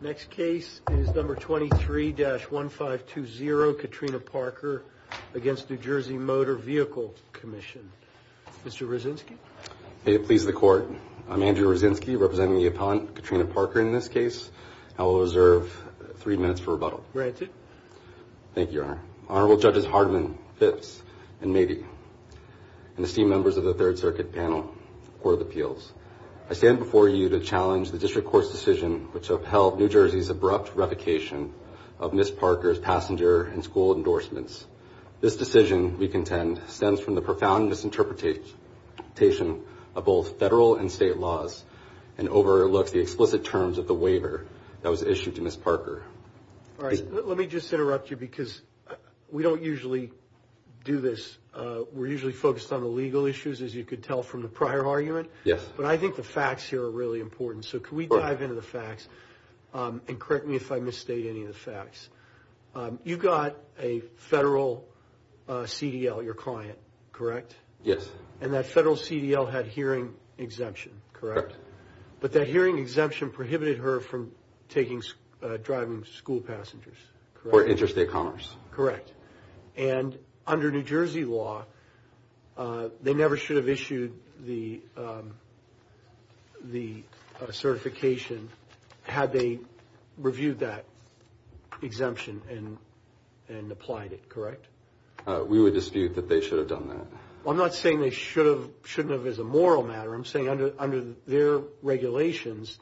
Next case is number 23-1520, Katrina Parker v. NJ Motor Vehicle Commission. Mr. Roszynski? May it please the Court. I'm Andrew Roszynski, representing the appellant Katrina Parker in this case. I will reserve three minutes for rebuttal. Granted. Thank you, Your Honor. Honorable Judges Hardman, Phipps, and Mabee, and esteemed members of the Third Circuit panel, Court of Appeals, I stand before you to challenge the district court's decision which upheld New Jersey's abrupt revocation of Ms. Parker's passenger and school endorsements. This decision, we contend, stems from the profound misinterpretation of both federal and state laws and overlooks the explicit terms of the waiver that was issued to Ms. Parker. Let me just interrupt you because we don't usually do this. We're usually focused on the legal issues, as you could tell from the prior argument. Yes. But I think the facts here are really important, so can we dive into the facts and correct me if I misstate any of the facts. You got a federal CDL, your client, correct? Yes. And that federal CDL had hearing exemption, correct? Correct. But that hearing exemption prohibited her from driving school passengers, correct? Or interstate commerce. Correct. And under New Jersey law, they never should have issued the certification had they reviewed that exemption and applied it, correct? We would dispute that they should have done that. I'm not saying they shouldn't have as a moral matter. I'm saying under their regulations,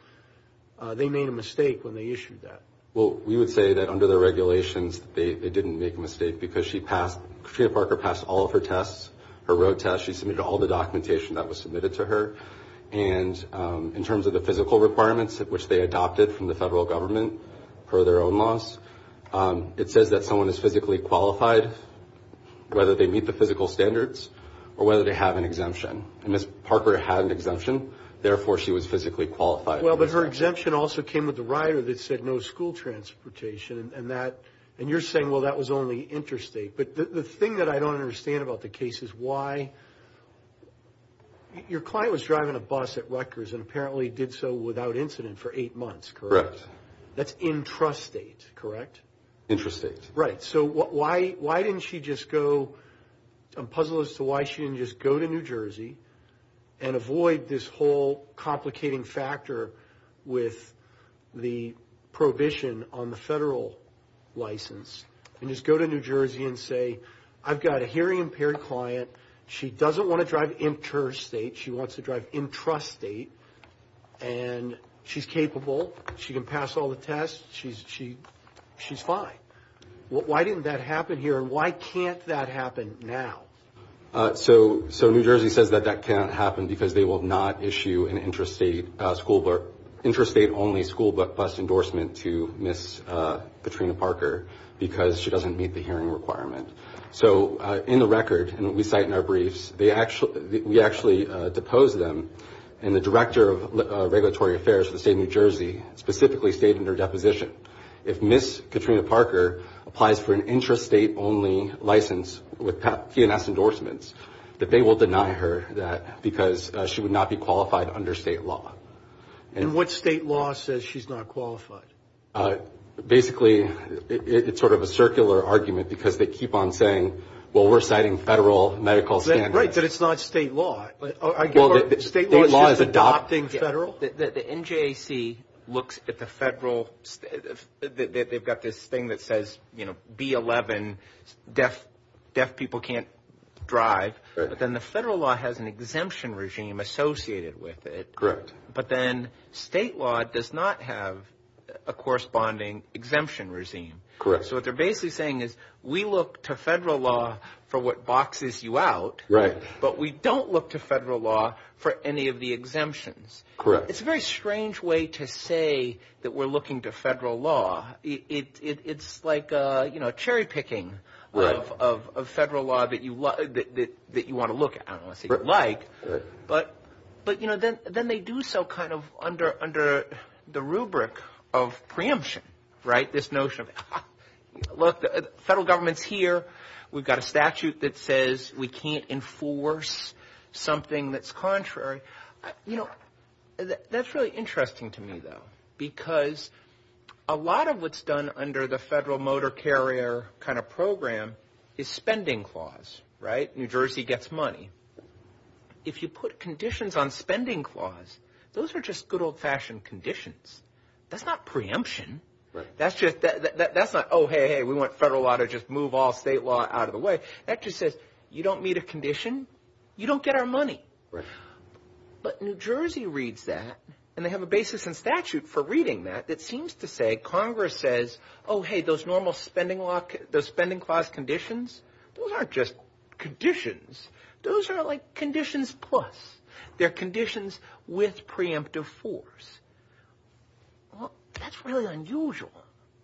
they made a mistake when they issued that. Well, we would say that under their regulations, they didn't make a mistake because Katrina Parker passed all of her tests, her road test. She submitted all the documentation that was submitted to her. And in terms of the physical requirements, which they adopted from the federal government per their own laws, it says that someone is physically qualified, whether they meet the physical standards or whether they have an exemption. And Ms. Parker had an exemption. Therefore, she was physically qualified. Well, but her exemption also came with the rider that said no school transportation. And you're saying, well, that was only interstate. But the thing that I don't understand about the case is why. Your client was driving a bus at Rutgers and apparently did so without incident for eight months, correct? Correct. That's intrastate, correct? Intrastate. Right. So why didn't she just go? I'm puzzled as to why she didn't just go to New Jersey and avoid this whole complicating factor with the prohibition on the federal license and just go to New Jersey and say, I've got a hearing-impaired client. She doesn't want to drive interstate. She wants to drive intrastate. And she's capable. She can pass all the tests. She's fine. Why didn't that happen here? And why can't that happen now? So New Jersey says that that can't happen because they will not issue an intrastate-only school bus endorsement to Ms. Katrina Parker because she doesn't meet the hearing requirement. So in the record, and we cite in our briefs, we actually depose them, and the Director of Regulatory Affairs for the state of New Jersey specifically stated in her deposition, if Ms. Katrina Parker applies for an intrastate-only license with PNS endorsements, that they will deny her that because she would not be qualified under state law. And what state law says she's not qualified? Basically, it's sort of a circular argument because they keep on saying, well, we're citing federal medical standards. Right, but it's not state law. State law is just adopting federal. The NJAC looks at the federal. They've got this thing that says, you know, B-11, deaf people can't drive. But then the federal law has an exemption regime associated with it. Correct. But then state law does not have a corresponding exemption regime. Correct. So what they're basically saying is we look to federal law for what boxes you out, but we don't look to federal law for any of the exemptions. Correct. It's a very strange way to say that we're looking to federal law. It's like, you know, cherry-picking of federal law that you want to look at, unless you like. But, you know, then they do so kind of under the rubric of preemption, right? This notion of, look, the federal government's here. We've got a statute that says we can't enforce something that's contrary. You know, that's really interesting to me, though, because a lot of what's done under the federal motor carrier kind of program is spending clause, right? New Jersey gets money. If you put conditions on spending clause, those are just good old-fashioned conditions. That's not preemption. That's not, oh, hey, hey, we want federal law to just move all state law out of the way. That just says you don't meet a condition, you don't get our money. Right. But New Jersey reads that, and they have a basis in statute for reading that, that seems to say Congress says, oh, hey, those normal spending clause conditions, those aren't just conditions. Those are like conditions plus. They're conditions with preemptive force. Well, that's really unusual.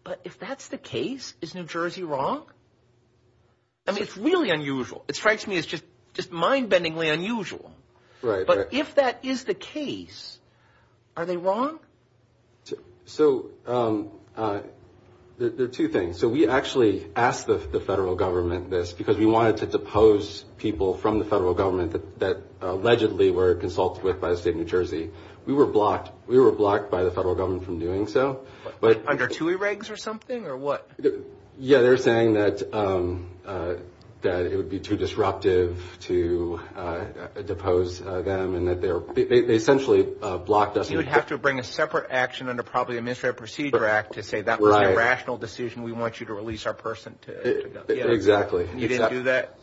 But if that's the case, is New Jersey wrong? I mean, it's really unusual. It strikes me as just mind-bendingly unusual. Right, right. But if that is the case, are they wrong? So there are two things. So we actually asked the federal government this because we wanted to depose people from the federal government that allegedly were consulted with by the state of New Jersey. We were blocked. We were blocked by the federal government from doing so. Under TUI regs or something or what? Yeah, they're saying that it would be too disruptive to depose them and that they essentially blocked us. You would have to bring a separate action under probably the Administrative Procedure Act to say that was an irrational decision. We want you to release our person. Exactly. You didn't do that?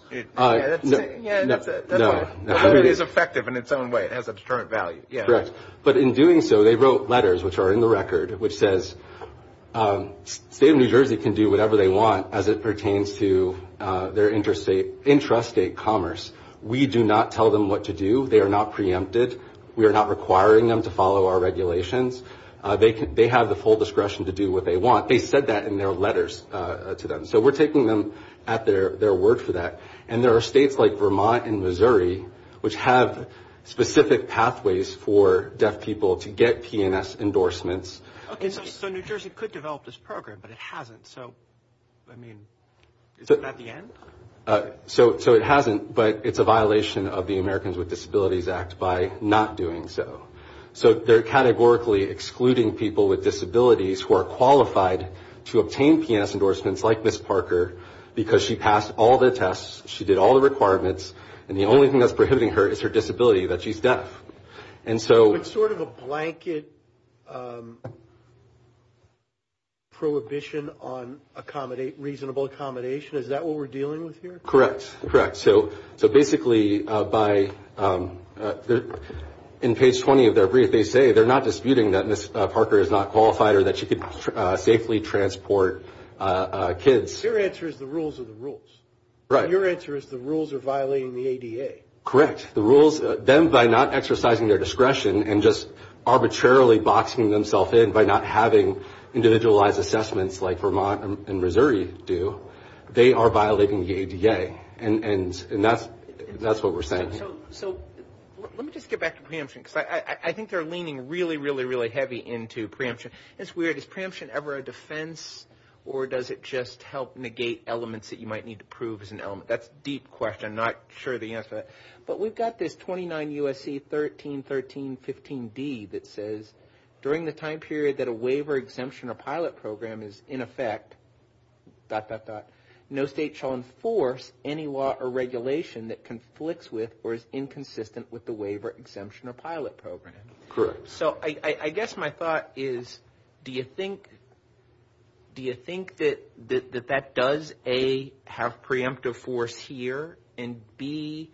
No. But it is effective in its own way. It has a determined value. Correct. But in doing so, they wrote letters, which are in the record, which says the state of New Jersey can do whatever they want as it pertains to their intrastate commerce. We do not tell them what to do. They are not preempted. We are not requiring them to follow our regulations. They have the full discretion to do what they want. They said that in their letters to them. So we're taking them at their word for that. And there are states like Vermont and Missouri, which have specific pathways for deaf people to get P&S endorsements. Okay, so New Jersey could develop this program, but it hasn't. So, I mean, is it at the end? So it hasn't, but it's a violation of the Americans with Disabilities Act by not doing so. So they're categorically excluding people with disabilities who are qualified to obtain P&S endorsements like Ms. Parker because she passed all the tests, she did all the requirements, and the only thing that's prohibiting her is her disability, that she's deaf. It's sort of a blanket prohibition on reasonable accommodation. Is that what we're dealing with here? Correct, correct. So basically, in page 20 of their brief, they say they're not disputing that Ms. Parker is not qualified or that she can safely transport kids. Your answer is the rules are the rules. Right. Your answer is the rules are violating the ADA. Correct. The rules, them by not exercising their discretion and just arbitrarily boxing themselves in by not having individualized assessments like Vermont and Missouri do, they are violating the ADA. And that's what we're saying. So let me just get back to preemption because I think they're leaning really, really, really heavy into preemption. It's weird. Is preemption ever a defense or does it just help negate elements that you might need to prove as an element? That's a deep question. I'm not sure of the answer to that. But we've got this 29 U.S.C. 13.13.15d that says, during the time period that a waiver exemption or pilot program is in effect, dot, dot, dot, no state shall enforce any law or regulation that conflicts with or is inconsistent with the waiver exemption or pilot program. Correct. So I guess my thought is, do you think that that does, A, have preemptive force here, and B,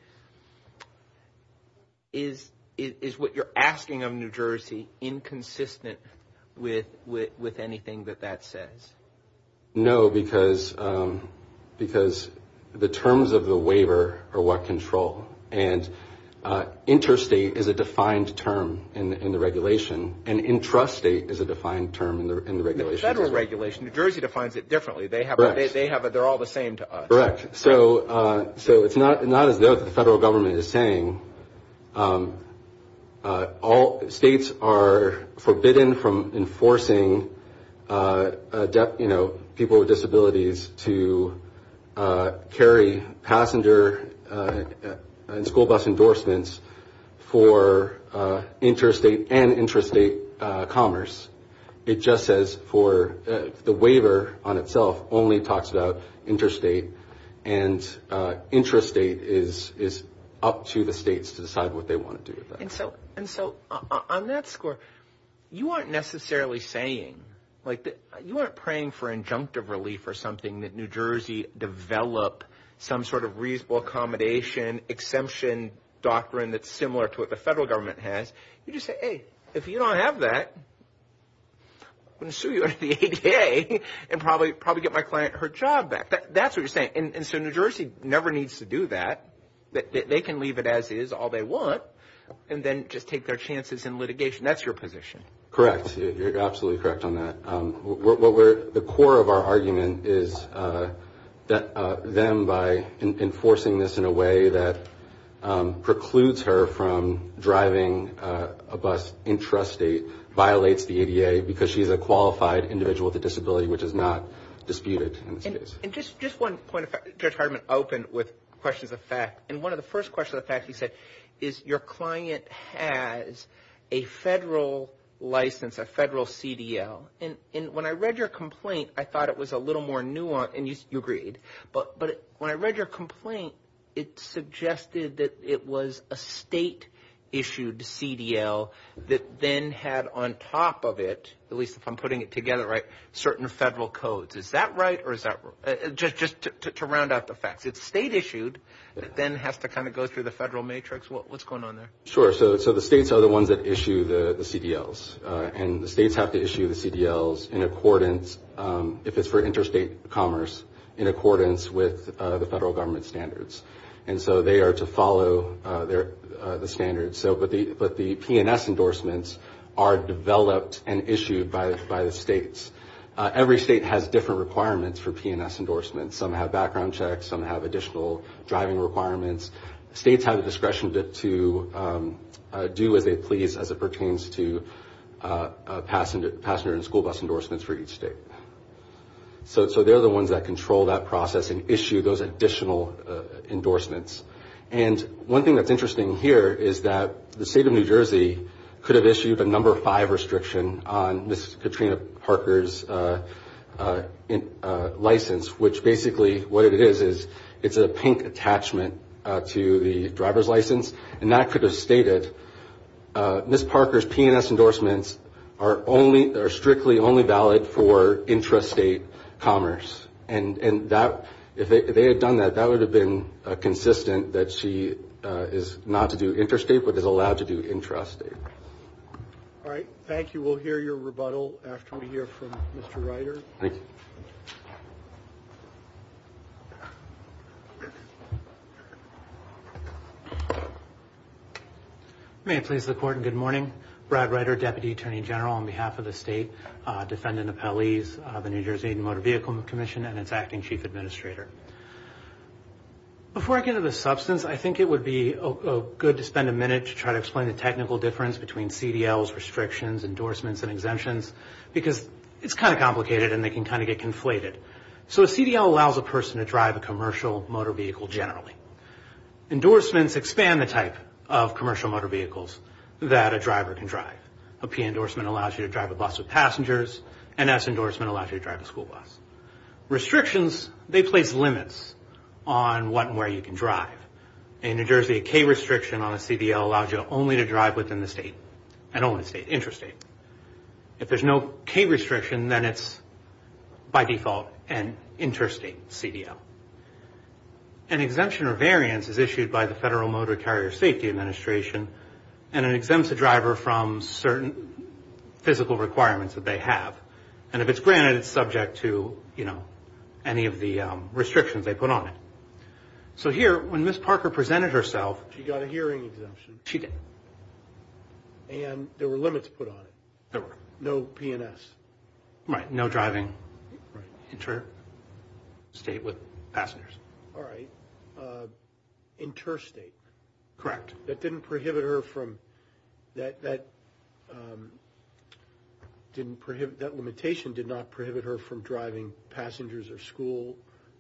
is what you're asking of New Jersey inconsistent with anything that that says? No, because the terms of the waiver are what control. And interstate is a defined term in the regulation. And intrastate is a defined term in the regulation. Federal regulation, New Jersey defines it differently. They have a, they're all the same to us. Correct. So it's not as though the federal government is saying all states are forbidden from enforcing, you know, people with disabilities to carry passenger and school bus endorsements for interstate and intrastate commerce. It just says for the waiver on itself only talks about interstate. And intrastate is up to the states to decide what they want to do with that. And so on that score, you aren't necessarily saying, like, you aren't praying for injunctive relief or something that New Jersey develop some sort of reasonable accommodation exemption doctrine that's similar to what the federal government has. You just say, hey, if you don't have that, I'm going to sue you at the ADA and probably get my client her job back. That's what you're saying. And so New Jersey never needs to do that. They can leave it as is, all they want, and then just take their chances in litigation. That's your position. Correct. You're absolutely correct on that. The core of our argument is that them by enforcing this in a way that precludes her from driving a bus intrastate violates the ADA because she's a qualified individual with a disability, which is not disputed in this case. And just one point. Judge Hartman opened with questions of fact. And one of the first questions of fact he said is your client has a federal license, a federal CDL. And when I read your complaint, I thought it was a little more nuanced, and you agreed. But when I read your complaint, it suggested that it was a state-issued CDL that then had on top of it, at least if I'm putting it together right, certain federal codes. Is that right? Just to round out the facts, it's state-issued that then has to kind of go through the federal matrix? What's going on there? Sure. So the states are the ones that issue the CDLs, and the states have to issue the CDLs in accordance, if it's for interstate commerce, in accordance with the federal government standards. And so they are to follow the standards. But the P&S endorsements are developed and issued by the states. Every state has different requirements for P&S endorsements. Some have background checks. Some have additional driving requirements. States have the discretion to do as they please as it pertains to passenger and school bus endorsements for each state. So they're the ones that control that process and issue those additional endorsements. And one thing that's interesting here is that the state of New Jersey could have issued a number five restriction on Ms. Katrina Parker's license, which basically what it is is it's a pink attachment to the driver's license. And that could have stated Ms. Parker's P&S endorsements are strictly only valid for intrastate commerce. And if they had done that, that would have been consistent that she is not to do interstate but is allowed to do intrastate. All right. Thank you. We'll hear your rebuttal after we hear from Mr. Ryder. Thank you. May it please the Court and good morning. Brad Ryder, Deputy Attorney General on behalf of the State Defendant Appellees, the New Jersey Motor Vehicle Commission, and its Acting Chief Administrator. Before I get into the substance, I think it would be good to spend a minute to try to explain the technical difference between CDLs, restrictions, endorsements, and exemptions because it's kind of complicated and they can kind of get conflated. So a CDL allows a person to drive a commercial motor vehicle generally. Endorsements expand the type of commercial motor vehicles that a driver can drive. A P endorsement allows you to drive a bus with passengers. An S endorsement allows you to drive a school bus. Restrictions, they place limits on what and where you can drive. In New Jersey, a K restriction on a CDL allows you only to drive within the state and only the state interstate. If there's no K restriction, then it's by default an interstate CDL. An exemption or variance is issued by the Federal Motor Carrier Safety Administration and it exempts a driver from certain physical requirements that they have. And if it's granted, it's subject to, you know, any of the restrictions they put on it. So here, when Ms. Parker presented herself… She got a hearing exemption. She did. And there were limits put on it. There were. No P and S. Right. No driving interstate with passengers. All right. Interstate. Correct. That didn't prohibit her from… That didn't prohibit… That limitation did not prohibit her from driving passengers or school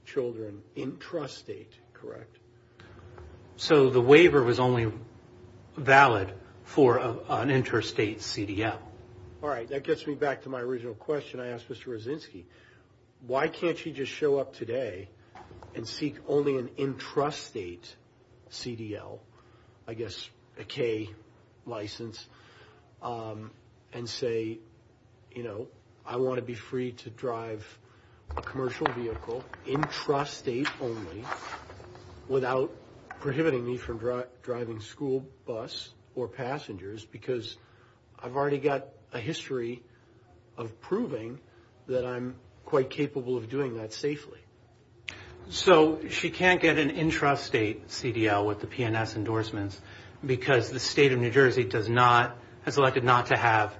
children intrastate. Correct. So the waiver was only valid for an interstate CDL. All right. That gets me back to my original question I asked Mr. Rozinski. Why can't she just show up today and seek only an intrastate CDL, I guess a K license, and say, you know, I want to be free to drive a commercial vehicle intrastate only without prohibiting me from driving school bus or passengers because I've already got a history of proving that I'm quite capable of doing that safely. So she can't get an intrastate CDL with the P and S endorsements because the state of New Jersey has elected not to have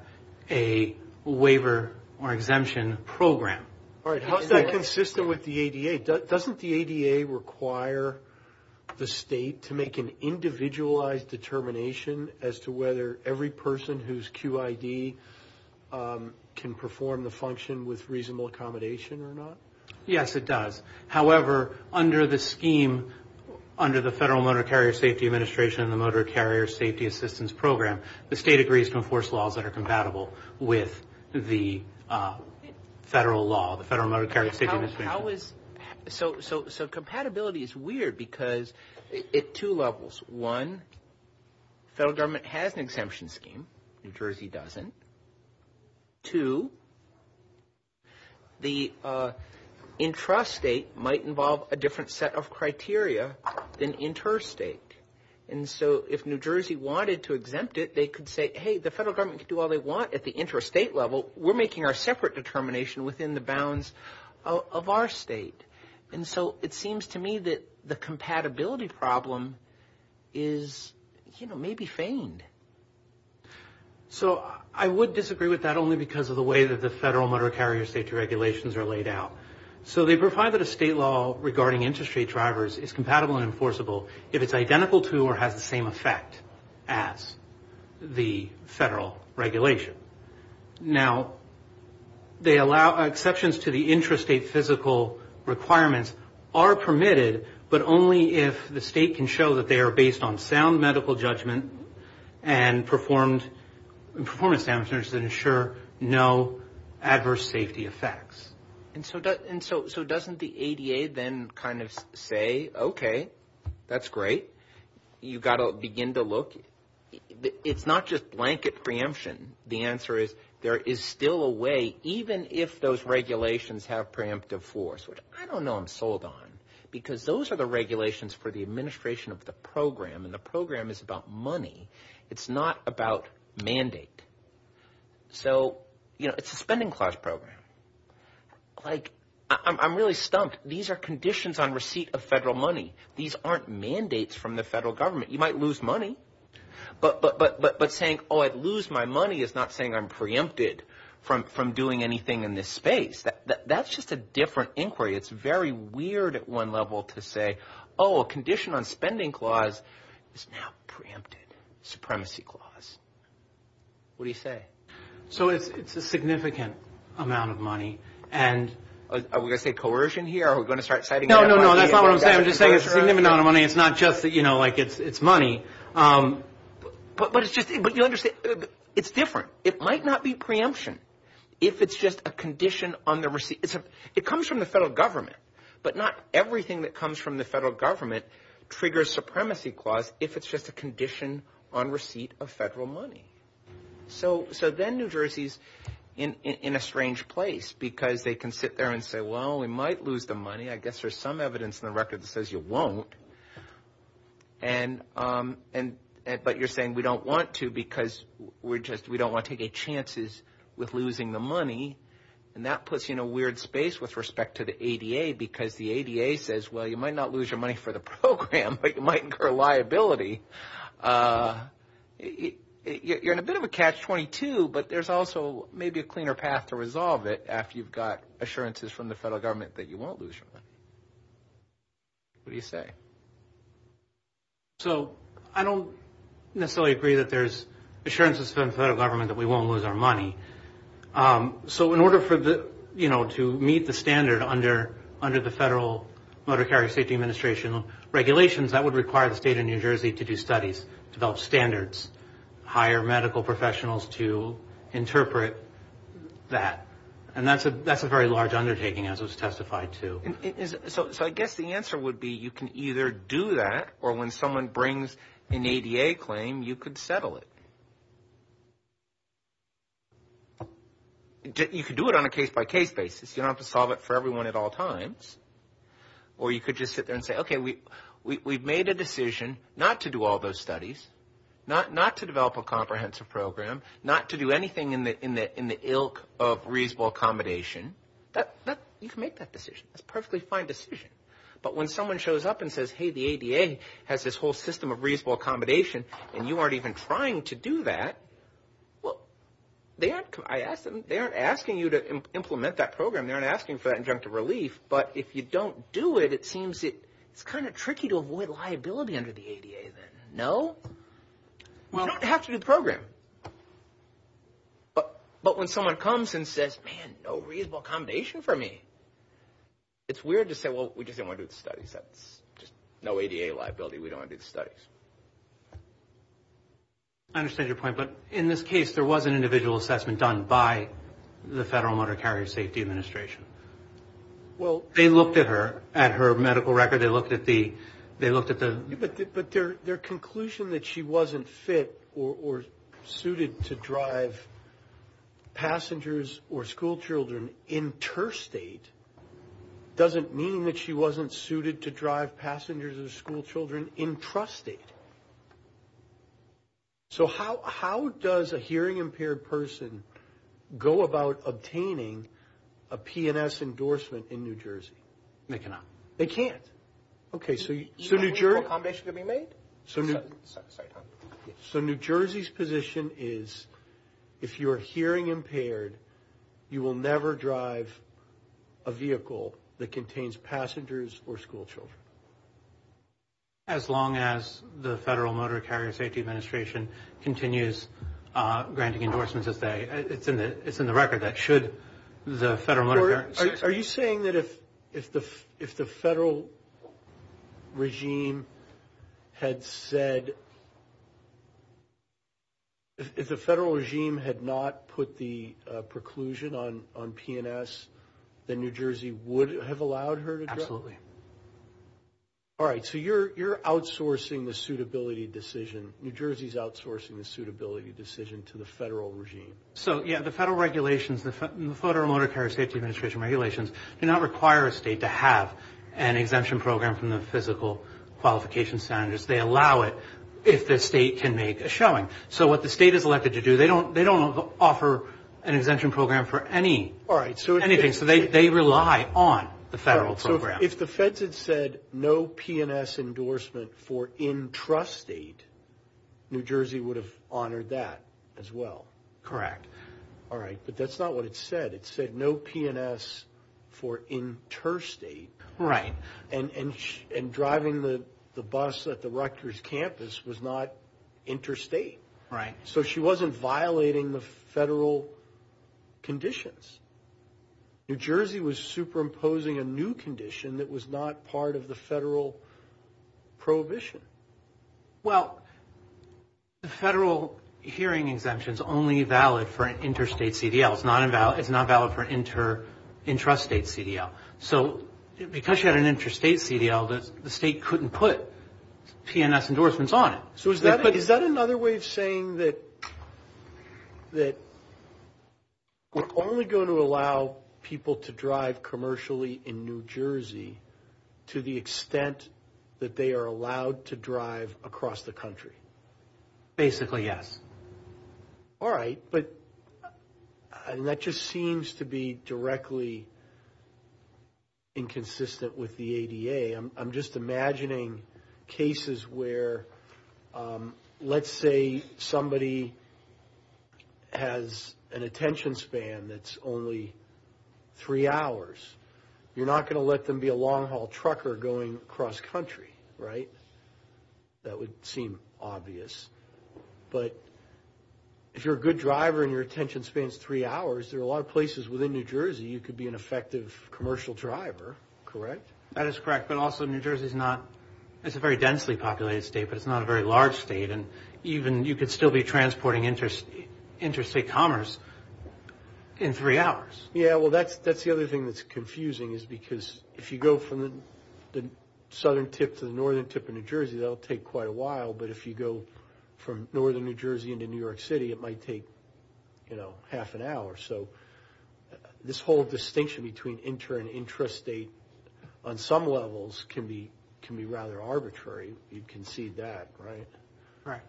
a waiver or exemption program. All right. How is that consistent with the ADA? Doesn't the ADA require the state to make an individualized determination as to whether every person whose QID can perform the function with reasonable accommodation or not? Yes, it does. However, under the scheme, under the Federal Motor Carrier Safety Administration and the Motor Carrier Safety Assistance Program, the state agrees to enforce laws that are compatible with the federal law, So compatibility is weird because at two levels. One, the federal government has an exemption scheme. New Jersey doesn't. Two, the intrastate might involve a different set of criteria than interstate. And so if New Jersey wanted to exempt it, they could say, hey, the federal government can do all they want at the intrastate level. So we're making our separate determination within the bounds of our state. And so it seems to me that the compatibility problem is, you know, maybe feigned. So I would disagree with that only because of the way that the federal motor carrier safety regulations are laid out. So they provide that a state law regarding intrastate drivers is compatible and enforceable if it's identical to or has the same effect as the federal regulation. Now, they allow exceptions to the intrastate physical requirements are permitted, but only if the state can show that they are based on sound medical judgment and performance standards that ensure no adverse safety effects. And so doesn't the ADA then kind of say, OK, that's great. You've got to begin to look. It's not just blanket preemption. The answer is there is still a way, even if those regulations have preemptive force, which I don't know I'm sold on because those are the regulations for the administration of the program. And the program is about money. It's not about mandate. So, you know, it's a spending clause program. Like, I'm really stumped. These are conditions on receipt of federal money. These aren't mandates from the federal government. You might lose money. But saying, oh, I'd lose my money is not saying I'm preempted from doing anything in this space. That's just a different inquiry. It's very weird at one level to say, oh, a condition on spending clause is now preempted. Supremacy clause. What do you say? So it's a significant amount of money. And are we going to say coercion here? Are we going to start citing that money? No, no, no. That's not what I'm saying. I'm just saying it's a significant amount of money. It's not just that, you know, like it's money. But it's just, but you understand, it's different. It might not be preemption if it's just a condition on the receipt. It comes from the federal government. But not everything that comes from the federal government triggers supremacy clause if it's just a condition on receipt of federal money. So then New Jersey's in a strange place because they can sit there and say, well, we might lose the money. I guess there's some evidence in the record that says you won't. But you're saying we don't want to because we don't want to take any chances with losing the money. And that puts you in a weird space with respect to the ADA because the ADA says, well, you might not lose your money for the program, but you might incur liability. You're in a bit of a catch-22, but there's also maybe a cleaner path to resolve it after you've got assurances from the federal government that you won't lose your money. What do you say? So I don't necessarily agree that there's assurances from the federal government that we won't lose our money. So in order to meet the standard under the Federal Motor Carrier Safety Administration regulations, that would require the state of New Jersey to do studies, develop standards, hire medical professionals to interpret that. And that's a very large undertaking, as was testified to. So I guess the answer would be you can either do that, or when someone brings an ADA claim, you could settle it. You could do it on a case-by-case basis. You don't have to solve it for everyone at all times. Or you could just sit there and say, okay, we've made a decision not to do all those studies, not to develop a comprehensive program, not to do anything in the ilk of reasonable accommodation. You can make that decision. That's a perfectly fine decision. But when someone shows up and says, hey, the ADA has this whole system of reasonable accommodation, and you aren't even trying to do that, well, they aren't asking you to implement that program. They aren't asking for that injunctive relief. But if you don't do it, it seems it's kind of tricky to avoid liability under the ADA then. No? You don't have to do the program. But when someone comes and says, man, no reasonable accommodation for me, it's weird to say, well, we just didn't want to do the studies. That's just no ADA liability. We don't want to do the studies. I understand your point. But in this case, there was an individual assessment done by the Federal Motor Carrier Safety Administration. Well, they looked at her, at her medical record. They looked at the – or suited to drive passengers or schoolchildren interstate doesn't mean that she wasn't suited to drive passengers or schoolchildren intrastate. So how does a hearing-impaired person go about obtaining a P&S endorsement in New Jersey? They cannot. They can't. Okay, so New Jersey – Is there a reasonable accommodation to be made? So New Jersey's position is if you're hearing-impaired, you will never drive a vehicle that contains passengers or schoolchildren. As long as the Federal Motor Carrier Safety Administration continues granting endorsements as they – it's in the record that should the Federal Motor Carrier – Are you saying that if the Federal regime had said – if the Federal regime had not put the preclusion on P&S, then New Jersey would have allowed her to drive? Absolutely. All right, so you're outsourcing the suitability decision. New Jersey's outsourcing the suitability decision to the Federal regime. So, yeah, the Federal regulations, the Federal Motor Carrier Safety Administration regulations, do not require a state to have an exemption program from the physical qualification standards. They allow it if the state can make a showing. So what the state is elected to do, they don't offer an exemption program for anything. So they rely on the Federal program. So if the Feds had said no P&S endorsement for intrastate, New Jersey would have honored that as well. Correct. All right, but that's not what it said. It said no P&S for interstate. Right. And driving the bus at the Rutgers campus was not interstate. Right. So she wasn't violating the Federal conditions. New Jersey was superimposing a new condition that was not part of the Federal prohibition. Well, the Federal hearing exemption is only valid for an interstate CDL. It's not valid for an intrastate CDL. So because she had an interstate CDL, the state couldn't put P&S endorsements on it. So is that another way of saying that we're only going to allow people to drive commercially in New Jersey to the extent that they are allowed to drive across the country? Basically, yes. All right, but that just seems to be directly inconsistent with the ADA. I'm just imagining cases where, let's say somebody has an attention span that's only three hours. You're not going to let them be a long-haul trucker going across country, right? That would seem obvious. But if you're a good driver and your attention span is three hours, there are a lot of places within New Jersey you could be an effective commercial driver, correct? That is correct, but also New Jersey is a very densely populated state, but it's not a very large state. And you could still be transporting interstate commerce in three hours. Yeah, well, that's the other thing that's confusing, is because if you go from the southern tip to the northern tip of New Jersey, that'll take quite a while. But if you go from northern New Jersey into New York City, it might take half an hour. So this whole distinction between inter- and intrastate on some levels can be rather arbitrary. You can see that, right? Right.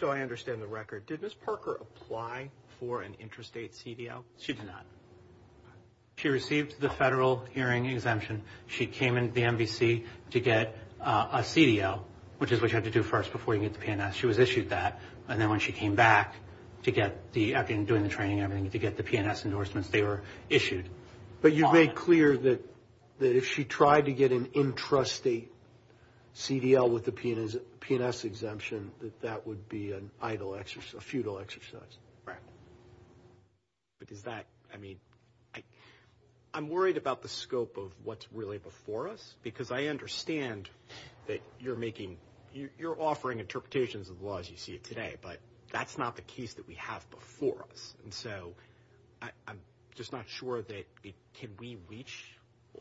So I understand the record. Did Ms. Parker apply for an intrastate CDL? She did not. She received the federal hearing exemption. She came into the NVC to get a CDL, which is what you have to do first before you get the P&S. She was issued that. And then when she came back, after doing the training and everything, to get the P&S endorsements, they were issued. But you made clear that if she tried to get an intrastate CDL with the P&S exemption, that that would be a futile exercise. Right. But is that – I mean, I'm worried about the scope of what's really before us, because I understand that you're making – you're offering interpretations of the law as you see it today, but that's not the case that we have before us. And so I'm just not sure that – can we reach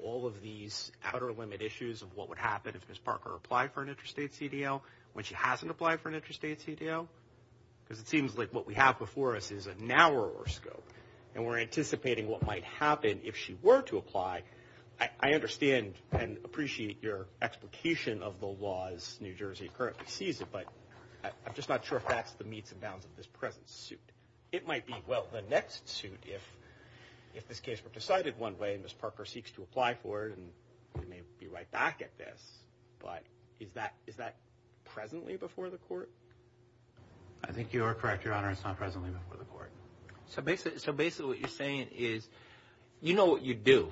all of these outer limit issues of what would happen if Ms. Parker applied for an intrastate CDL when she hasn't applied for an intrastate CDL? Because it seems like what we have before us is a narrower scope, and we're anticipating what might happen if she were to apply. I understand and appreciate your explication of the laws New Jersey currently sees it, but I'm just not sure if that's the meats and bounds of this present suit. It might be, well, the next suit if this case were decided one way and Ms. Parker seeks to apply for it, and we may be right back at this, but is that presently before the court? I think you are correct, Your Honor, it's not presently before the court. So basically what you're saying is you know what you'd do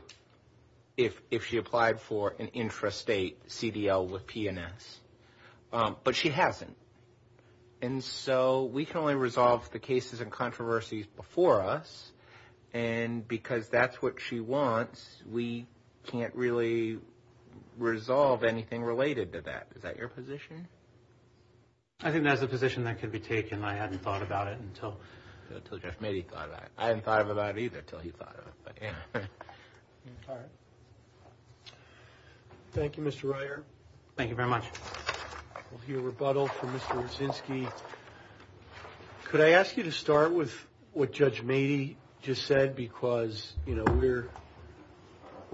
if she applied for an intrastate CDL with P&S, but she hasn't. And so we can only resolve the cases and controversies before us, and because that's what she wants, we can't really resolve anything related to that. Is that your position? I think that's a position that could be taken. I hadn't thought about it until – Until Jeff Mady thought about it. I hadn't thought about it either until he thought about it. Thank you, Mr. Reier. Thank you very much. We'll hear rebuttal from Mr. Kuczynski. Could I ask you to start with what Judge Mady just said? Because, you know, we're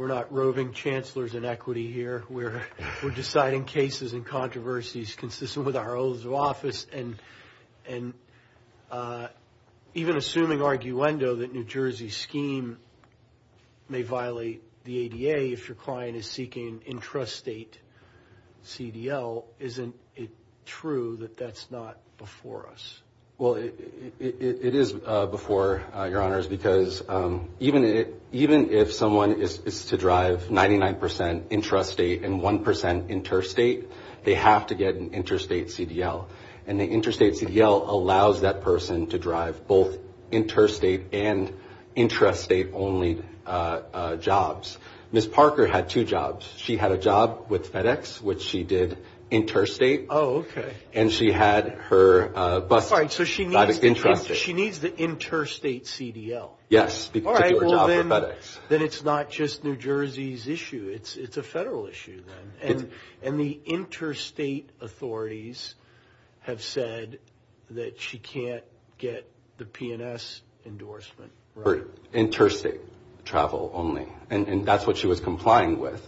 not roving chancellors in equity here. We're deciding cases and controversies consistent with our oaths of office, and even assuming arguendo that New Jersey's scheme may violate the ADA if your client is seeking intrastate CDL, isn't it true that that's not before us? Well, it is before, Your Honors, because even if someone is to drive 99% intrastate and 1% interstate, they have to get an interstate CDL. And the interstate CDL allows that person to drive both interstate and intrastate-only jobs. Ms. Parker had two jobs. She had a job with FedEx, which she did interstate. Oh, okay. And she had her bus that was intrastate. All right, so she needs the interstate CDL. Yes, to do a job with FedEx. All right, well, then it's not just New Jersey's issue. It's a federal issue then. And the interstate authorities have said that she can't get the P&S endorsement, right? Interstate travel only, and that's what she was complying with.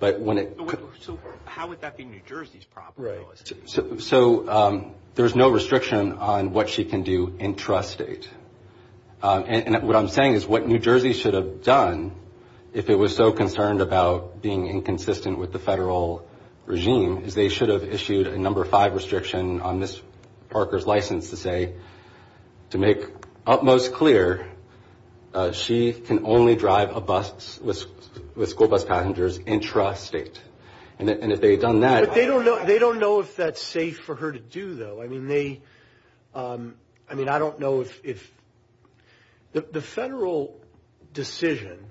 So how would that be New Jersey's property? Right. So there's no restriction on what she can do intrastate. And what I'm saying is what New Jersey should have done, if it was so concerned about being inconsistent with the federal regime, is they should have issued a number five restriction on Ms. Parker's license to say, to make utmost clear, she can only drive a bus with school bus passengers intrastate. And if they had done that – But they don't know if that's safe for her to do, though. I mean, they – I mean, I don't know if – the federal decision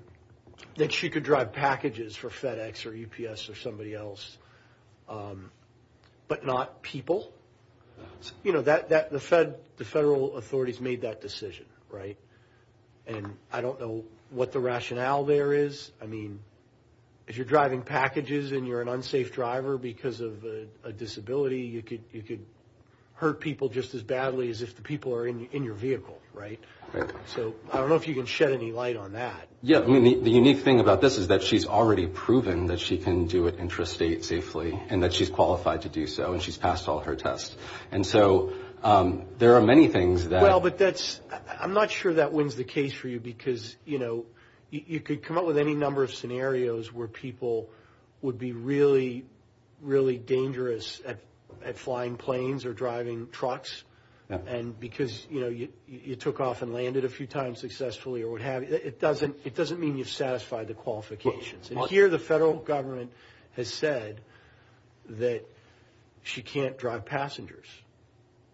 that she could drive packages for FedEx or UPS or somebody else, but not people, you know, the federal authorities made that decision, right? And I don't know what the rationale there is. I mean, if you're driving packages and you're an unsafe driver because of a disability, you could hurt people just as badly as if the people are in your vehicle, right? Right. So I don't know if you can shed any light on that. Yeah. I mean, the unique thing about this is that she's already proven that she can do it intrastate safely and that she's qualified to do so and she's passed all her tests. And so there are many things that – Well, but that's – I'm not sure that wins the case for you because, you know, you could come up with any number of scenarios where people would be really, really dangerous at flying planes or driving trucks. And because, you know, you took off and landed a few times successfully or what have you, it doesn't mean you've satisfied the qualifications. And here the federal government has said that she can't drive passengers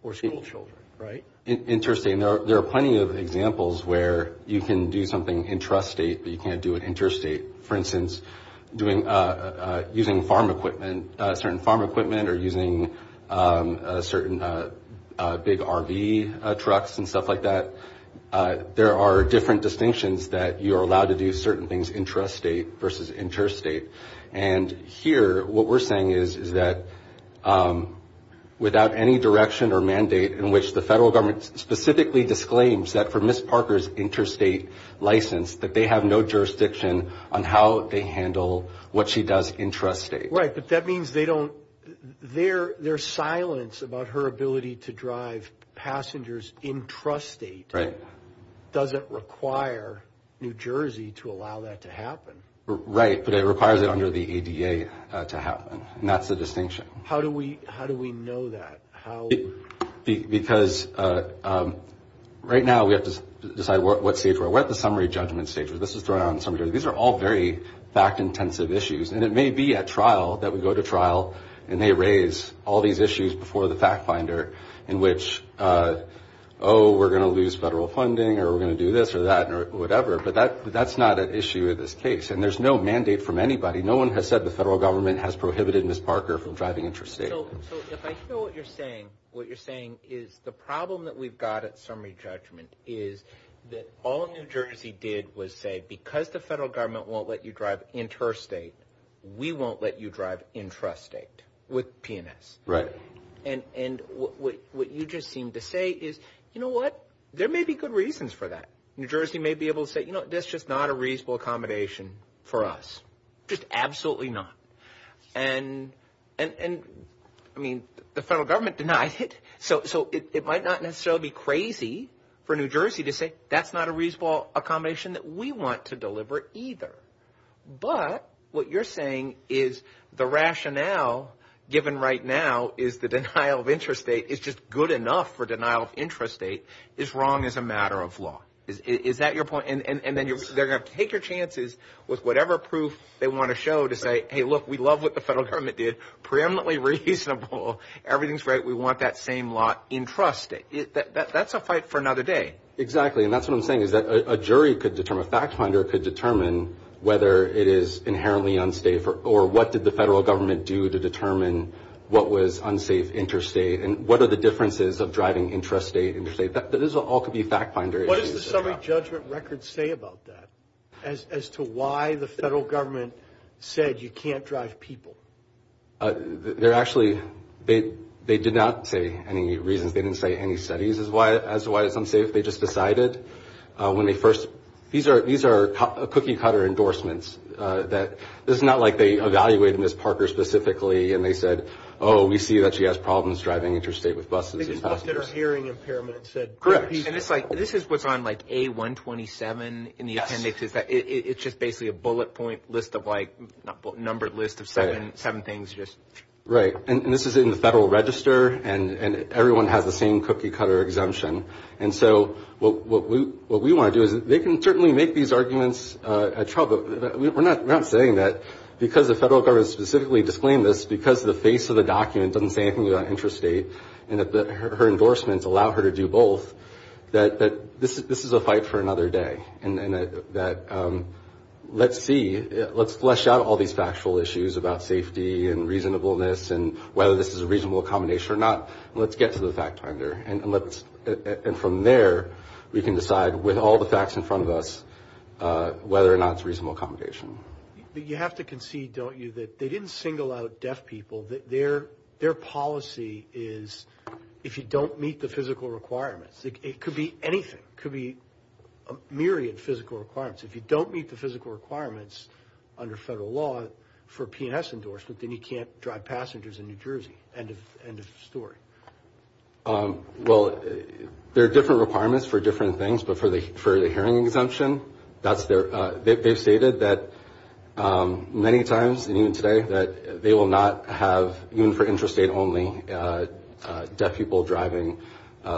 or schoolchildren, right? Interesting. There are plenty of examples where you can do something intrastate, but you can't do it interstate. For instance, using farm equipment, certain farm equipment, or using certain big RV trucks and stuff like that. There are different distinctions that you are allowed to do certain things intrastate versus interstate. And here what we're saying is that without any direction or mandate in which the federal government specifically disclaims that for Ms. Parker's interstate license, that they have no jurisdiction on how they handle what she does intrastate. Right, but that means they don't – their silence about her ability to drive passengers intrastate. Right. Doesn't require New Jersey to allow that to happen. Right, but it requires it under the ADA to happen, and that's the distinction. How do we know that? Because right now we have to decide what stage we're at. We're at the summary judgment stage, where this is thrown out in summary. These are all very fact-intensive issues, and it may be at trial that we go to trial and they raise all these issues before the fact finder in which, oh, we're going to lose federal funding or we're going to do this or that or whatever, but that's not an issue in this case. And there's no mandate from anybody. No one has said the federal government has prohibited Ms. Parker from driving intrastate. So if I hear what you're saying, what you're saying is the problem that we've got at summary judgment is that all New Jersey did was say because the federal government won't let you drive intrastate, we won't let you drive intrastate with P&S. Right. And what you just seemed to say is, you know what, there may be good reasons for that. New Jersey may be able to say, you know, that's just not a reasonable accommodation for us. Just absolutely not. And, I mean, the federal government denies it. So it might not necessarily be crazy for New Jersey to say that's not a reasonable accommodation that we want to deliver either. But what you're saying is the rationale given right now is the denial of intrastate is just good enough for denial of intrastate is wrong as a matter of law. Is that your point? And then they're going to take your chances with whatever proof they want to show to say, hey, look, we love what the federal government did, preeminently reasonable. Everything's right. We want that same lot intrastate. That's a fight for another day. Exactly. And that's what I'm saying is that a jury could determine, a fact finder could determine whether it is inherently unsafe or what did the federal government do to determine what was unsafe intrastate and what are the differences of driving intrastate, intrastate. That all could be a fact finder. What does the summary judgment record say about that as to why the federal government said you can't drive people? They're actually, they did not say any reasons. They didn't say any studies as to why it's unsafe. They just decided when they first, these are cookie cutter endorsements that, this is not like they evaluated Ms. Parker specifically and they said, oh, we see that she has problems driving intrastate with buses and passengers. They just looked at her hearing impairment and said. Correct. And it's like, this is what's on like A127 in the appendix. It's just basically a bullet point list of like, numbered list of seven things just. Right. And this is in the federal register and everyone has the same cookie cutter exemption. And so what we want to do is they can certainly make these arguments at trial, but we're not saying that because the federal government specifically disclaimed this, because the face of the document doesn't say anything about intrastate and that her endorsements allow her to do both, that this is a fight for another day and that let's see, let's flesh out all these factual issues about safety and reasonableness and whether this is a reasonable accommodation or not. Let's get to the fact finder and let's, and from there we can decide with all the facts in front of us whether or not it's a reasonable accommodation. You have to concede, don't you, that they didn't single out deaf people, that their policy is if you don't meet the physical requirements, it could be anything. It could be a myriad of physical requirements. If you don't meet the physical requirements under federal law for a P&S endorsement, then you can't drive passengers in New Jersey. End of story. Well, there are different requirements for different things, but for the hearing exemption, they've stated that many times and even today that they will not have, even for intrastate only, deaf people driving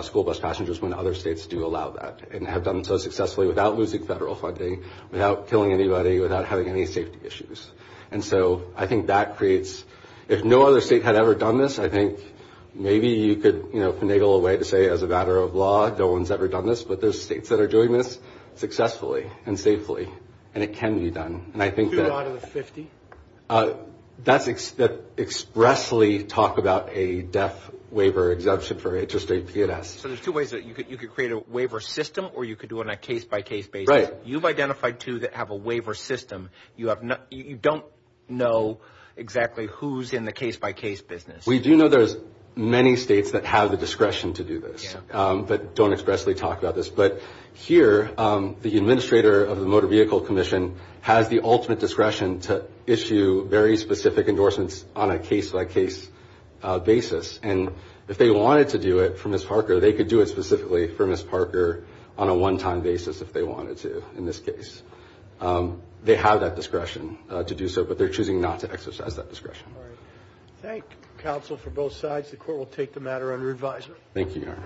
school bus passengers when other states do allow that and have done so successfully without losing federal funding, without killing anybody, without having any safety issues. And so I think that creates, if no other state had ever done this, I think maybe you could finagle a way to say as a matter of law no one's ever done this, but there's states that are doing this successfully and safely and it can be done. Two out of the 50? That's expressly talk about a deaf waiver exemption for intrastate P&S. So there's two ways. You could create a waiver system or you could do it on a case-by-case basis. Right. You've identified two that have a waiver system. You don't know exactly who's in the case-by-case business. We do know there's many states that have the discretion to do this, but don't expressly talk about this. But here the administrator of the Motor Vehicle Commission has the ultimate discretion to issue very specific endorsements on a case-by-case basis. And if they wanted to do it for Ms. Parker, they could do it specifically for Ms. Parker on a one-time basis if they wanted to in this case. They have that discretion to do so, but they're choosing not to exercise that discretion. All right. Thank you, counsel, for both sides. The Court will take the matter under advisement. Thank you, Your Honor.